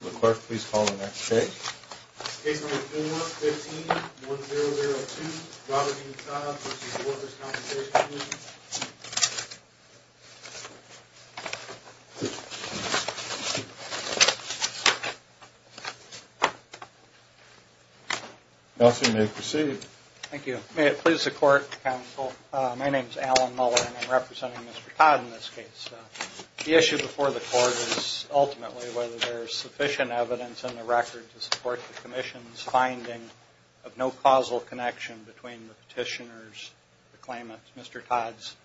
The court, please call the next case. Case number 415-1002, Robert E. Todd v. Workers' Compensation Comm'n. Counselor, you may proceed. Thank you. May it please the court, counsel, my name is Alan Muller and I'm representing Mr. Todd in this case. The issue before the court is ultimately whether there is sufficient evidence in the record to support the Commission's finding of no causal connection between the petitioner's claimant, Mr. Todd's,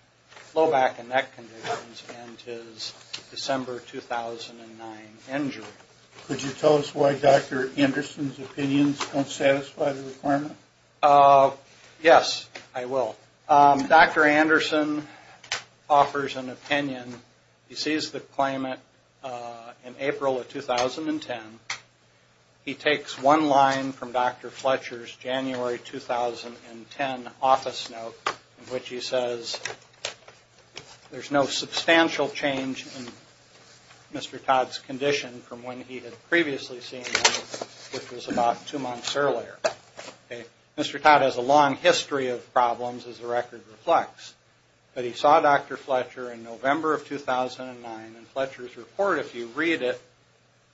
low back and neck conditions and his December 2009 injury. Could you tell us why Dr. Anderson's opinions don't satisfy the requirement? Yes, I will. Dr. Anderson offers an opinion. He sees the claimant in April of 2010. He takes one line from Dr. Fletcher's January 2010 office note in which he says, there's no substantial change in Mr. Todd's condition from when he had previously seen him, which was about two months earlier. Mr. Todd has a long history of problems, as the record reflects. But he saw Dr. Fletcher in November of 2009 and Fletcher's report, if you read it,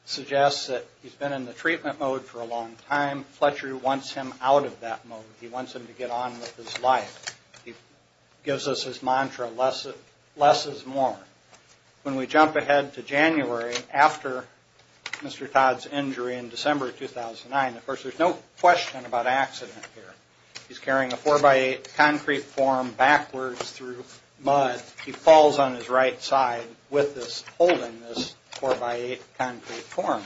suggests that he's been in the treatment mode for a long time. Fletcher wants him out of that mode. He wants him to get on with his life. He gives us his mantra, less is more. When we jump ahead to January after Mr. Todd's injury in December 2009, of course there's no question about accident here. He's carrying a four-by-eight concrete form backwards through mud. He falls on his right side with this, holding this four-by-eight concrete form.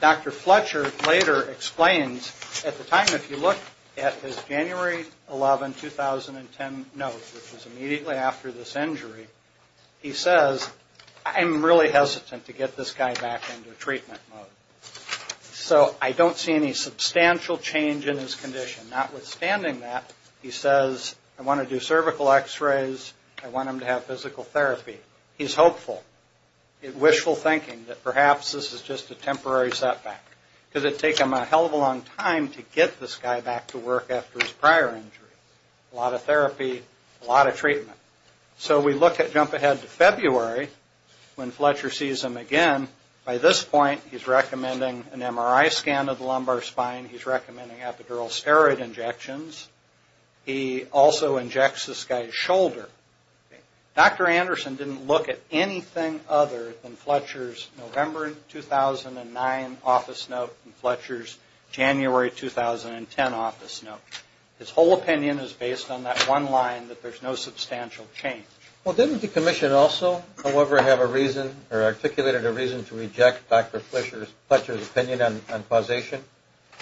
Dr. Fletcher later explains, at the time if you look at his January 11, 2010 note, which was immediately after this injury, he says, I'm really hesitant to get this guy back into treatment mode. So I don't see any substantial change in his condition. Notwithstanding that, he says, I want to do cervical x-rays, I want him to have physical therapy. He's hopeful, wishful thinking that perhaps this is just a temporary setback. Because it would take him a hell of a long time to get this guy back to work after his prior injury. A lot of therapy, a lot of treatment. So we look at, jump ahead to February, when Fletcher sees him again. By this point, he's recommending an MRI scan of the lumbar spine, he's recommending epidural steroid injections. He also injects this guy's shoulder. Dr. Anderson didn't look at anything other than Fletcher's November 2009 office note and Fletcher's January 2010 office note. His whole opinion is based on that one line that there's no substantial change. Well, didn't the commission also, however, have a reason or articulated a reason to reject Dr. Fletcher's opinion on causation?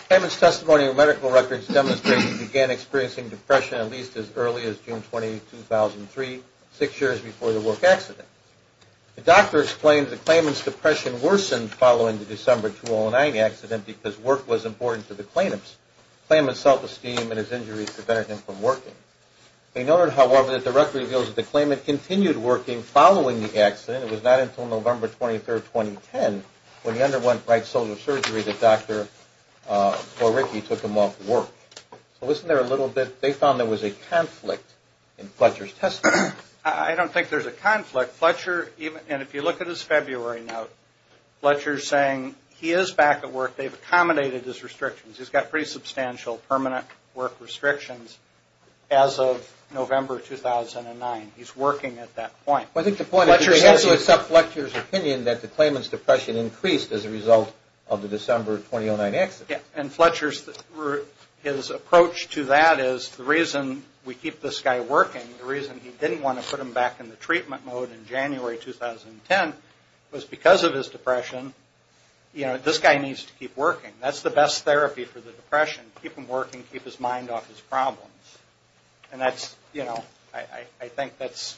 Claimant's testimony of medical records demonstrates he began experiencing depression at least as early as June 20, 2003, six years before the work accident. The doctor explained that the claimant's depression worsened following the December 2009 accident because work was important to the claimant's self-esteem and his injuries prevented him from working. They noted, however, that the record reveals that the claimant continued working following the accident. It was not until November 23, 2010, when he underwent right shoulder surgery, that Dr. Poricki took him off work. So listen there a little bit. They found there was a conflict in Fletcher's testimony. I don't think there's a conflict. And if you look at his February note, Fletcher's saying he is back at work. They've accommodated his restrictions. He's got pretty substantial permanent work restrictions as of November 2009. He's working at that point. Well, I think the point is they have to accept Fletcher's opinion that the claimant's depression increased as a result of the December 2009 accident. And Fletcher's approach to that is the reason we keep this guy working, the reason he didn't want to put him back in the treatment mode in January 2010, was because of his depression. You know, this guy needs to keep working. That's the best therapy for the depression. Keep him working. Keep his mind off his problems. And that's, you know, I think that's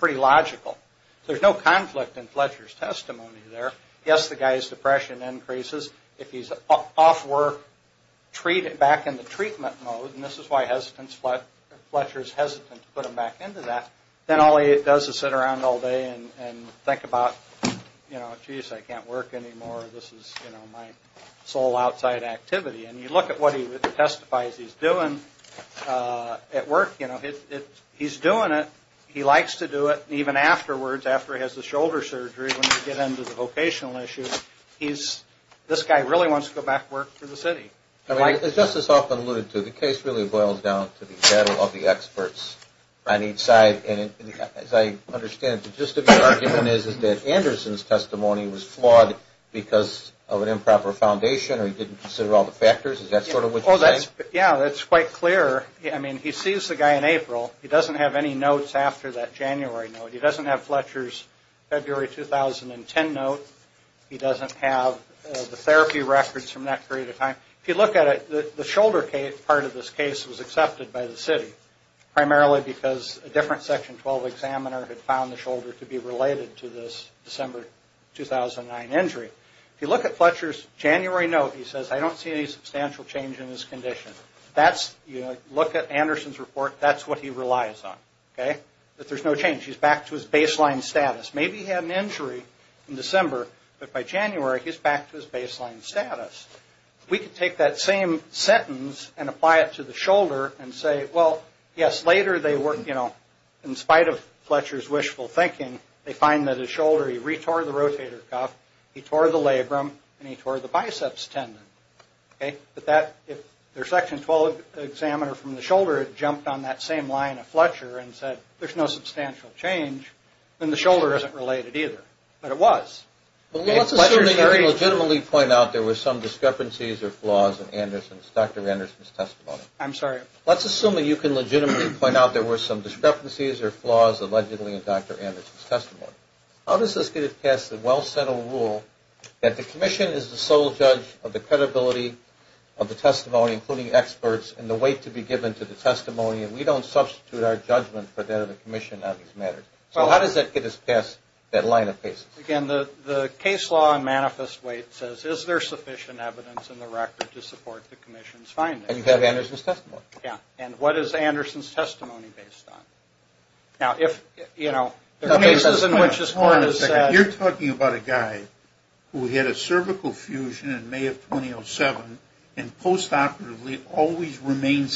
pretty logical. There's no conflict in Fletcher's testimony there. Yes, the guy's depression increases. If he's off work, back in the treatment mode, and this is why Fletcher's hesitant to put him back into that, then all he does is sit around all day and think about, you know, geez, I can't work anymore. This is, you know, my sole outside activity. And you look at what he testifies he's doing at work, you know, he's doing it, he likes to do it, and even afterwards, after he has the shoulder surgery, when you get into the vocational issue, this guy really wants to go back to work for the city. As Justice Hoffman alluded to, the case really boils down to the battle of the experts on each side. And as I understand it, the gist of your argument is that Anderson's testimony was flawed because of an improper foundation or he didn't consider all the factors? Is that sort of what you're saying? Yeah, that's quite clear. I mean, he sees the guy in April. He doesn't have any notes after that January note. He doesn't have Fletcher's February 2010 note. He doesn't have the therapy records from that period of time. If you look at it, the shoulder part of this case was accepted by the city, primarily because a different Section 12 examiner had found the shoulder to be related to this December 2009 injury. If you look at Fletcher's January note, he says, I don't see any substantial change in his condition. That's, you know, look at Anderson's report, that's what he relies on, okay, that there's no change. He's back to his baseline status. Maybe he had an injury in December, but by January, he's back to his baseline status. If we could take that same sentence and apply it to the shoulder and say, well, yes, later they were, you know, in spite of Fletcher's wishful thinking, they find that his shoulder, he retore the rotator cuff, he tore the labrum, and he tore the biceps tendon, okay? But that, if their Section 12 examiner from the shoulder had jumped on that same line of Fletcher and said there's no substantial change, then the shoulder isn't related either. But it was. Let's assume that you can legitimately point out there were some discrepancies or flaws in Dr. Anderson's testimony. I'm sorry? Let's assume that you can legitimately point out there were some discrepancies or flaws allegedly in Dr. Anderson's testimony. How does this get us past the well-settled rule that the commission is the sole judge of the credibility of the testimony, including experts, and the weight to be given to the testimony, and we don't substitute our judgment for that of the commission on these matters? So how does that get us past that line of cases? Again, the case law and manifest weight says is there sufficient evidence in the record to support the commission's findings? And you have Anderson's testimony. Yeah, and what is Anderson's testimony based on? Now, if, you know, there are cases in which this court has said. Hold on a second. You're talking about a guy who had a cervical fusion in May of 2007 and postoperatively always remained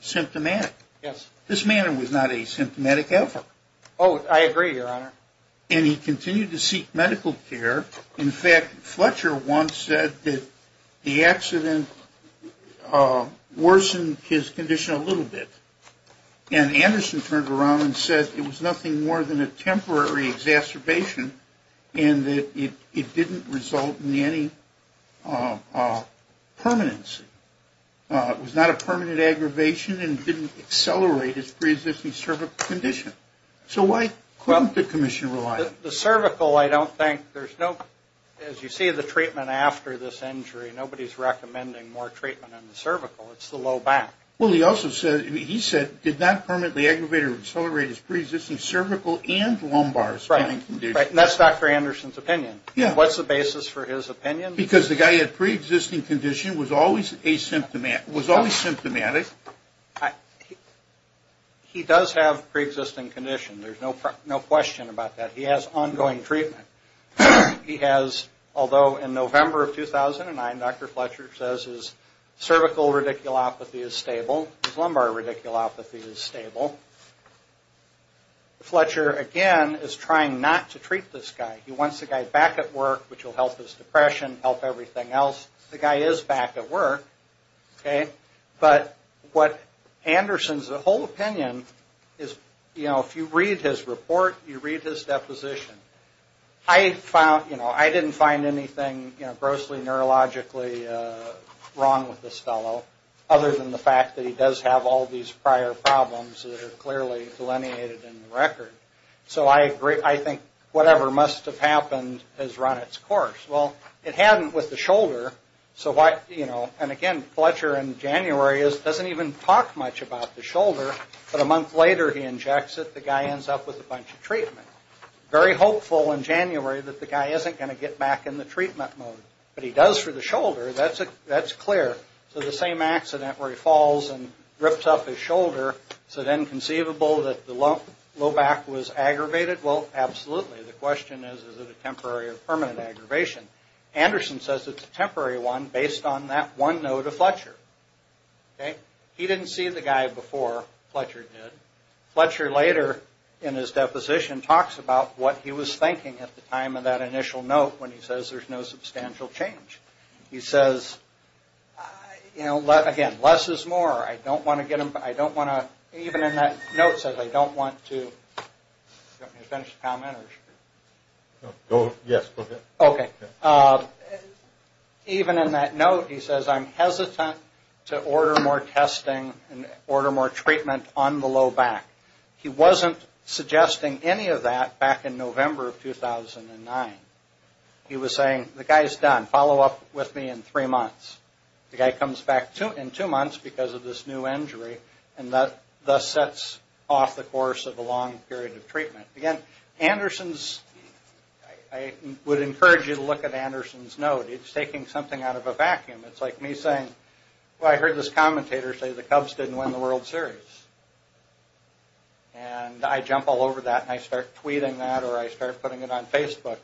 symptomatic. Yes. This man was not asymptomatic ever. Oh, I agree, Your Honor. And he continued to seek medical care. In fact, Fletcher once said that the accident worsened his condition a little bit. And Anderson turned around and said it was nothing more than a temporary exacerbation and that it didn't result in any permanency. It was not a permanent aggravation and didn't accelerate his preexisting cervical condition. So why couldn't the commission rely on it? The cervical, I don't think, there's no, as you see the treatment after this injury, nobody's recommending more treatment in the cervical. It's the low back. Well, he also said, he said, did not permanently aggravate or accelerate his preexisting cervical and lumbar standing condition. Right. And that's Dr. Anderson's opinion. Yeah. What's the basis for his opinion? Because the guy had preexisting condition, was always asymptomatic. He does have preexisting condition. There's no question about that. He has ongoing treatment. He has, although in November of 2009, Dr. Fletcher says his cervical radiculopathy is stable. His lumbar radiculopathy is stable. Fletcher, again, is trying not to treat this guy. He wants the guy back at work, which will help his depression, help everything else. The guy is back at work. Okay. But what Anderson's, the whole opinion is, you know, if you read his report, you read his deposition, I found, you know, I didn't find anything, you know, that he does have all these prior problems that are clearly delineated in the record. So I think whatever must have happened has run its course. Well, it hadn't with the shoulder, so why, you know, and again, Fletcher in January doesn't even talk much about the shoulder, but a month later he injects it, the guy ends up with a bunch of treatment. Very hopeful in January that the guy isn't going to get back in the treatment mode, but he does for the shoulder. That's clear. So the same accident where he falls and rips up his shoulder, is it inconceivable that the low back was aggravated? Well, absolutely. The question is, is it a temporary or permanent aggravation? Anderson says it's a temporary one based on that one note of Fletcher. Okay. He didn't see the guy before Fletcher did. Fletcher later in his deposition talks about what he was thinking at the time of that initial note when he says there's no substantial change. He says, you know, again, less is more. I don't want to get him, I don't want to, even in that note says I don't want to, you want me to finish the comment or should I? Yes, go ahead. Okay. Even in that note he says I'm hesitant to order more testing and order more treatment on the low back. He wasn't suggesting any of that back in November of 2009. He was saying the guy is done, follow up with me in three months. The guy comes back in two months because of this new injury and thus sets off the course of a long period of treatment. Again, Anderson's, I would encourage you to look at Anderson's note. It's taking something out of a vacuum. It's like me saying, well, I heard this commentator say the Cubs didn't win the World Series. And I jump all over that and I start tweeting that or I start putting it on Facebook.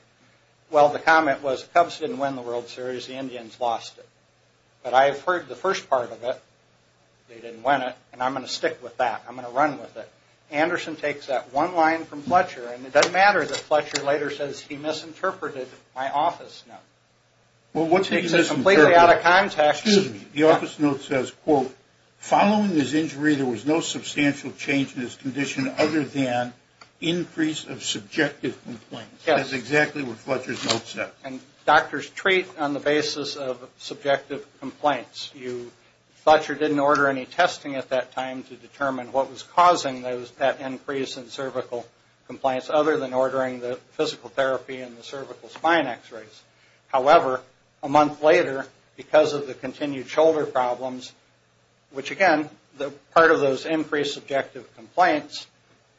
Well, the comment was the Cubs didn't win the World Series, the Indians lost it. But I have heard the first part of it, they didn't win it, and I'm going to stick with that. I'm going to run with it. Anderson takes that one line from Fletcher and it doesn't matter that Fletcher later says he misinterpreted my office note. Well, what's he misinterpreted? It's completely out of context. Excuse me. The office note says, quote, following his injury, there was no substantial change in his condition other than increase of subjective complaints. That's exactly what Fletcher's note said. And doctors treat on the basis of subjective complaints. Fletcher didn't order any testing at that time to determine what was causing that increase in cervical complaints other than ordering the physical therapy and the cervical spine x-rays. However, a month later, because of the continued shoulder problems, which again, part of those increased subjective complaints,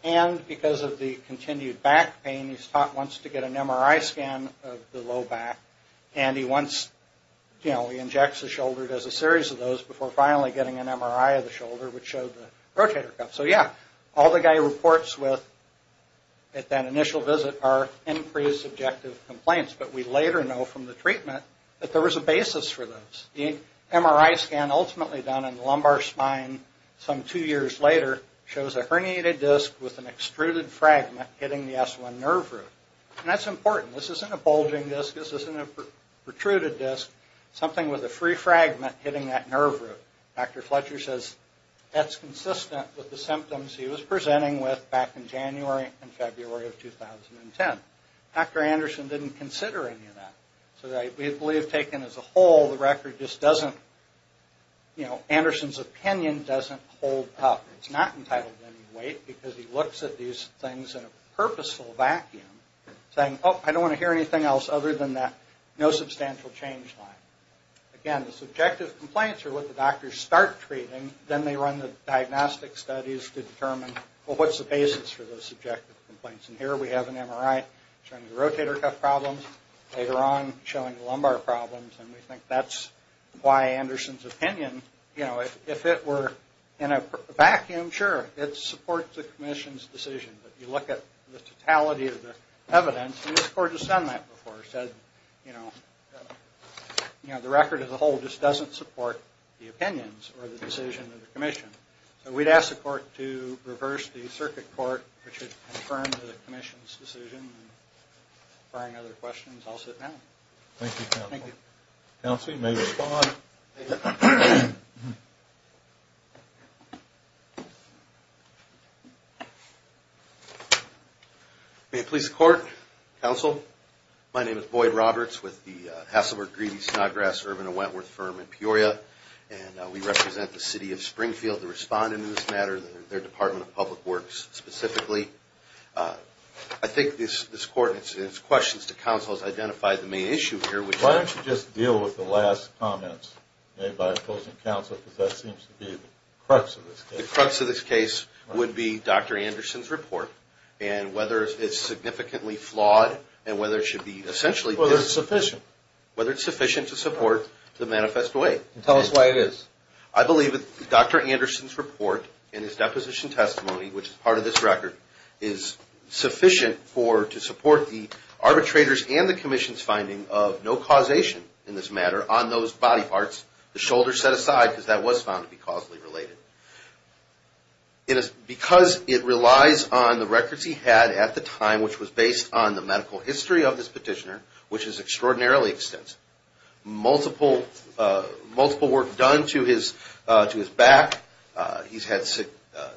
and because of the continued back pain, he's taught once to get an MRI scan of the low back. And he once, you know, he injects a shoulder, does a series of those before finally getting an MRI of the shoulder which showed the rotator cuff. So yeah, all the guy reports with at that initial visit are increased subjective complaints. But we later know from the treatment that there was a basis for those. The MRI scan ultimately done in the lumbar spine some two years later shows a herniated disc with an extruded fragment hitting the S1 nerve root. And that's important. This isn't a bulging disc. This isn't a protruded disc. Something with a free fragment hitting that nerve root. Dr. Fletcher says that's consistent with the symptoms he was presenting with back in January and February of 2010. Dr. Anderson didn't consider any of that. So we believe taken as a whole, the record just doesn't, you know, Anderson's opinion doesn't hold up. It's not entitled to any weight because he looks at these things in a purposeful vacuum saying, oh, I don't want to hear anything else other than that no substantial change line. Again, the subjective complaints are what the doctors start treating. Then they run the diagnostic studies to determine, well, what's the basis for those subjective complaints? And here we have an MRI showing the rotator cuff problems. Later on, showing the lumbar problems. And we think that's why Anderson's opinion, you know, if it were in a vacuum, sure, it supports the commission's decision. But if you look at the totality of the evidence, and this court has done that before, said, you know, the record as a whole just doesn't support the opinions or the decision of the commission. So we'd ask the court to reverse the circuit court, which would confirm the commission's decision. If there are no other questions, I'll sit down. Thank you, counsel. Thank you. Counsel, you may respond. May it please the court. Counsel, my name is Boyd Roberts with the Hasselberg Greedy Snodgrass Urban and Wentworth Firm in Peoria. And we represent the city of Springfield to respond in this matter. They're Department of Public Works specifically. I think this court and its questions to counsel has identified the main issue here. Why don't you just deal with the last comments made by opposing counsel, because that seems to be the crux of this case. The crux of this case would be Dr. Anderson's report. And whether it's significantly flawed and whether it should be essentially... Whether it's sufficient. Whether it's sufficient to support the manifest way. Tell us why it is. I believe Dr. Anderson's report in his deposition testimony, which is part of this record, is sufficient to support the arbitrators and the commission's finding of no causation in this matter on those body parts. The shoulder set aside, because that was found to be causally related. Because it relies on the records he had at the time, which was based on the medical history of this petitioner, which is extraordinarily extensive. Multiple work done to his back. He's had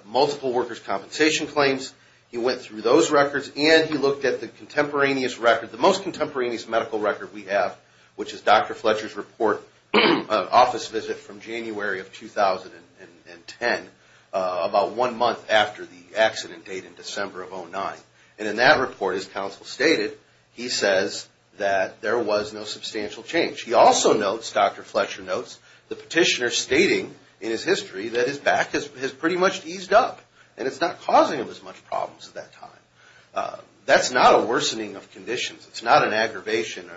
multiple workers' compensation claims. He went through those records, and he looked at the contemporaneous record, the most contemporaneous medical record we have, which is Dr. Fletcher's report, an office visit from January of 2010, about one month after the accident date in December of 2009. And in that report, as counsel stated, he says that there was no substantial change. He also notes, Dr. Fletcher notes, the petitioner stating in his history that his back has pretty much eased up. And it's not causing him as much problems at that time. That's not a worsening of conditions. It's not an aggravation.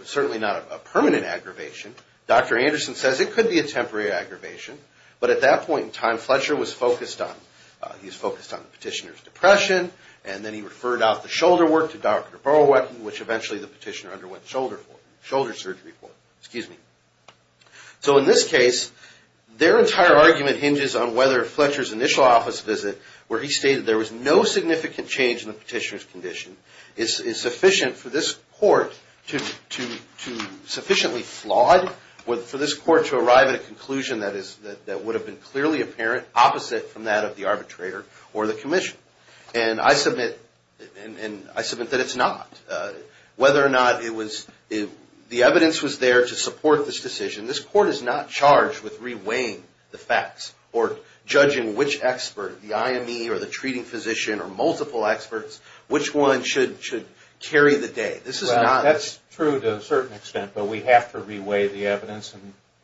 It's certainly not a permanent aggravation. Dr. Anderson says it could be a temporary aggravation. But at that point in time, Fletcher was focused on, he was focused on the petitioner's depression, and then he referred out the shoulder work to Dr. Borowiecki, which eventually the petitioner underwent shoulder surgery for. Excuse me. So in this case, their entire argument hinges on whether Fletcher's initial office visit, where he stated there was no significant change in the petitioner's condition, is sufficient for this court to sufficiently flawed for this court to arrive at a conclusion that would have been clearly opposite from that of the arbitrator or the commission. And I submit that it's not. Whether or not the evidence was there to support this decision, this court is not charged with reweighing the facts or judging which expert, the IME or the treating physician or multiple experts, which one should carry the day. That's true to a certain extent, but we have to reweigh the evidence in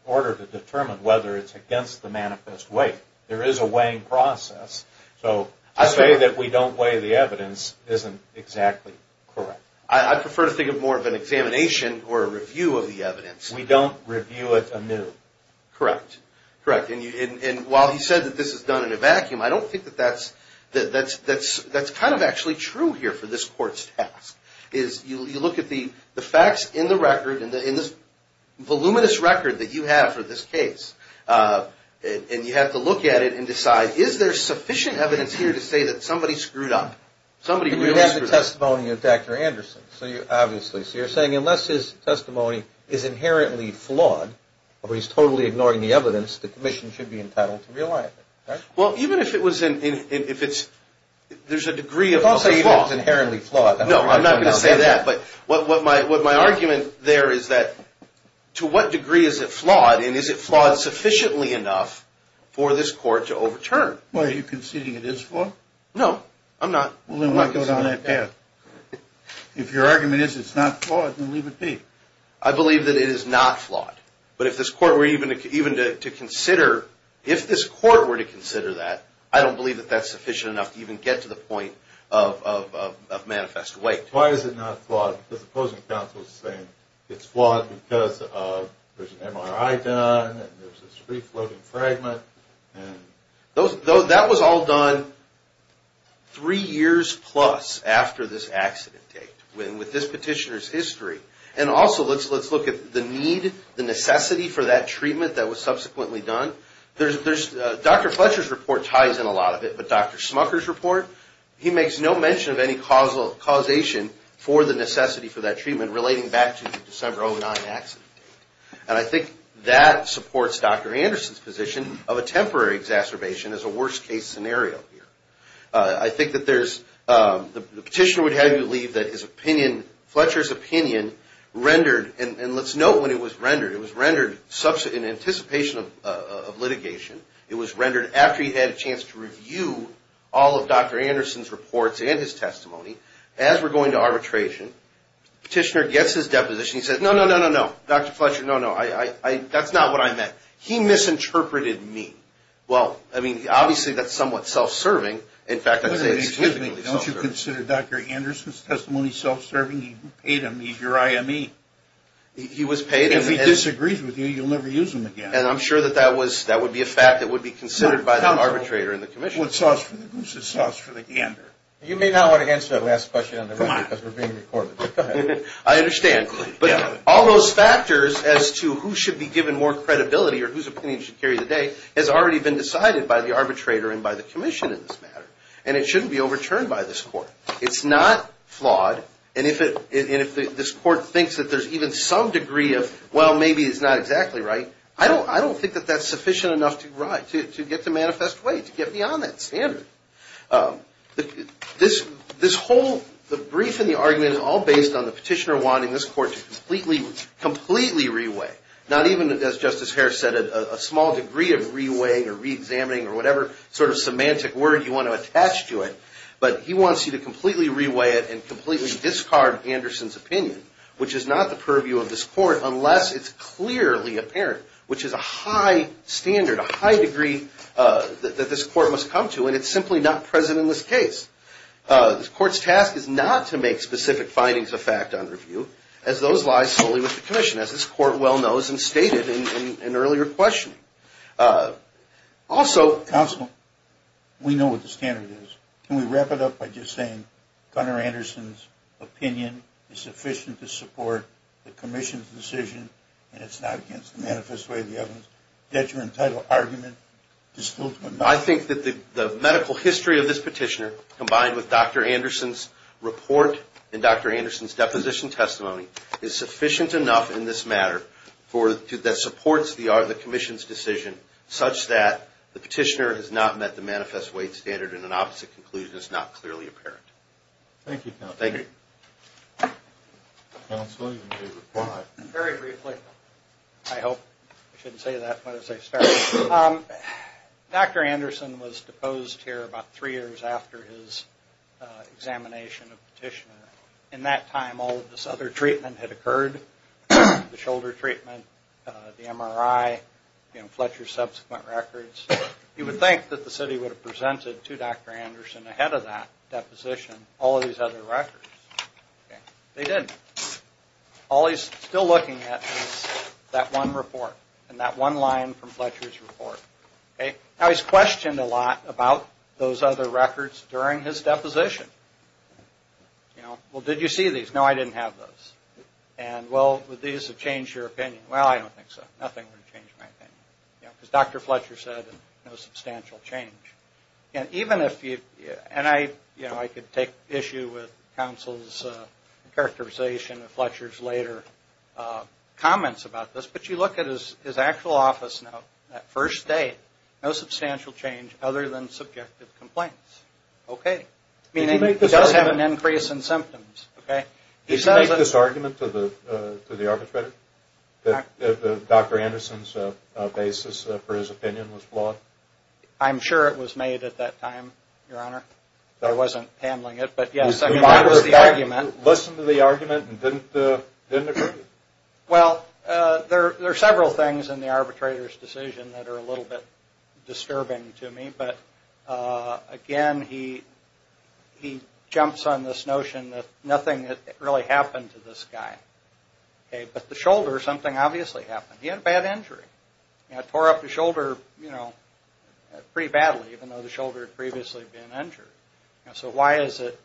order to determine whether it's against the manifest weight. There is a weighing process. So to say that we don't weigh the evidence isn't exactly correct. I prefer to think of more of an examination or a review of the evidence. We don't review it anew. Correct. Correct. And while he said that this is done in a vacuum, I don't think that that's kind of actually true here for this court's task, is you look at the facts in the record, in this voluminous record that you have for this case, and you have to look at it and decide, is there sufficient evidence here to say that somebody screwed up? Somebody really screwed up. You have the testimony of Dr. Anderson, obviously. So you're saying unless his testimony is inherently flawed, or he's totally ignoring the evidence, the commission should be entitled to re-align it. Well, even if it was in... There's a degree of... Don't say it's inherently flawed. No, I'm not going to say that, but what my argument there is that to what degree is it flawed, and is it flawed sufficiently enough for this court to overturn? Well, are you conceding it is flawed? No, I'm not. Well, then why go down that path? If your argument is it's not flawed, then leave it be. I believe that it is not flawed, but if this court were even to consider... If this court were to consider that, I don't believe that that's sufficient enough to even get to the point of manifest weight. Why is it not flawed? Because the opposing counsel is saying it's flawed because there's an MRI done, and there's this free-floating fragment, and... That was all done three years plus after this accident date with this petitioner's history. And also, let's look at the need, the necessity for that treatment that was subsequently done. Dr. Fletcher's report ties in a lot of it, but Dr. Smucker's report, he makes no mention of any causation for the necessity for that treatment relating back to the December 09 accident date. And I think that supports Dr. Anderson's position of a temporary exacerbation as a worst-case scenario here. I think that there's... The petitioner would have you believe that his opinion, Fletcher's opinion, rendered... And let's note when it was rendered. It was rendered in anticipation of litigation. It was rendered after he had a chance to review all of Dr. Anderson's reports and his testimony. As we're going to arbitration, the petitioner gets his deposition. He says, no, no, no, no, no, Dr. Fletcher, no, no. That's not what I meant. Well, I mean, obviously, that's somewhat self-serving. In fact, I'd say... Excuse me, don't you consider Dr. Anderson's testimony self-serving? He paid him. He's your IME. If he disagrees with you, you'll never use him again. And I'm sure that that would be a fact that would be considered by the arbitrator in the commission. Who's the sauce for the gander? You may not want to answer that last question on the record because we're being recorded. I understand. But all those factors as to who should be given more credibility or whose opinion should carry the day has already been decided by the arbitrator and by the commission in this matter. And it shouldn't be overturned by this court. It's not flawed. And if this court thinks that there's even some degree of, well, maybe it's not exactly right, I don't think that that's sufficient enough to get to manifest way, to get beyond that standard. This whole... The brief and the argument is all based on the petitioner wanting this court to completely, completely re-weigh. Not even, as Justice Harris said, a small degree of re-weighing or re-examining or whatever sort of semantic word you want to attach to it. But he wants you to completely re-weigh it and completely discard Anderson's opinion, which is not the purview of this court unless it's clearly apparent, which is a high standard, a high degree that this court must come to. And it's simply not present in this case. This court's task is not to make specific findings of fact on review, as those lie solely with the commission, as this court well knows and stated in earlier questioning. Also... Counsel, we know what the standard is. Can we wrap it up by just saying Gunnar Anderson's opinion is sufficient to support the commission's decision and it's not against the manifest way of the evidence? Does your entitled argument dispel... I think that the medical history of this petitioner combined with Dr. Anderson's support and Dr. Anderson's deposition testimony is sufficient enough in this matter that supports the commission's decision such that the petitioner has not met the manifest weight standard and an opposite conclusion is not clearly apparent. Thank you, Counsel. Counsel, you may reply. Very briefly. I hope I shouldn't say that but as I start. Dr. Anderson was deposed here about three years after his examination of petition and that time all of this other treatment had occurred. The shoulder treatment, the MRI, Fletcher's subsequent records. You would think that the city would have presented to Dr. Anderson ahead of that deposition all of these other records. They didn't. All he's still looking at is that one report and that one line from Fletcher's report. Now he's questioned a lot about those other records during his deposition. Did you see these? No, I didn't have those. Would these have changed your opinion? Well, I don't think so. Nothing would have changed my opinion because Dr. Fletcher said no substantial change. I could take issue with Counsel's characterization of Fletcher's later comments about this but you look at his actual office note that first day no substantial change other than subjective complaints. Okay. Did he make this argument to the arbitrator? That Dr. Anderson's basis for his opinion was flawed? I'm sure it was made at that time, Your Honor. I wasn't handling it. Listen to the argument and didn't it hurt you? Well, there are several things in the arbitrator's decision that are a little bit disturbing to me but again, he jumps on this notion that nothing really happened to this guy. But the shoulder, something obviously happened. He had a bad injury. It tore up the shoulder pretty badly even though the shoulder had previously been injured. So why is it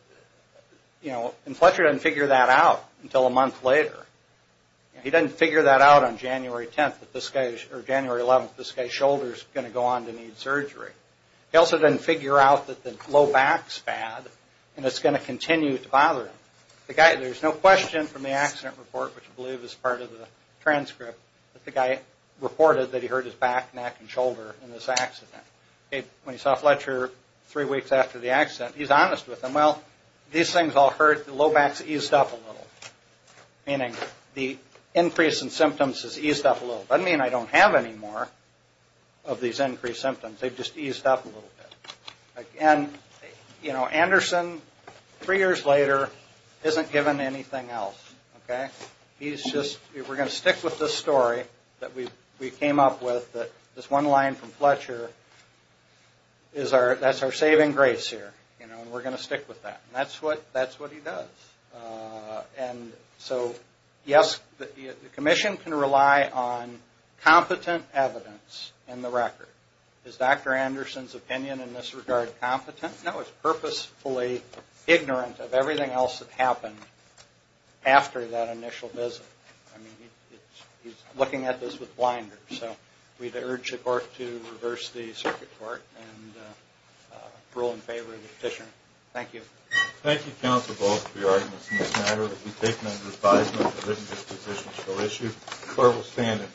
and Fletcher didn't figure that out until a month later. He didn't figure that out on January 10th or January 11th that this guy's shoulder is going to go on to need surgery. He also didn't figure out that the low back is bad and it's going to continue to bother him The guy, there's no question from the accident report which I believe is part of the transcript that the guy reported that he hurt his back, neck and shoulder in this accident. When he saw Fletcher three weeks after the accident, he's honest with him. Well, these things all hurt. The low back's eased up a little. Meaning the increase in symptoms has eased up a little. Doesn't mean I don't have any more of these increased symptoms. They've just eased up a little bit. And, you know, Anderson, isn't given anything else. Okay? We're going to stick with this story that we came up with. This one line from Fletcher, that's our saving grace here. We're going to stick with that. That's what he does. And so, yes, the Commission can rely on competent evidence in the record. Is Dr. Anderson's opinion in this regard competent? No, it's purposefully ignorant of everything else that happened after that initial visit. I mean, he's looking at this with blinders. So we'd urge the court to reverse the circuit court and rule in favor of the petitioner. Thank you. Thank you, counsel, both, for your arguments in this matter. We take them under advisement of this judicial issue. Court will stand at brief recess.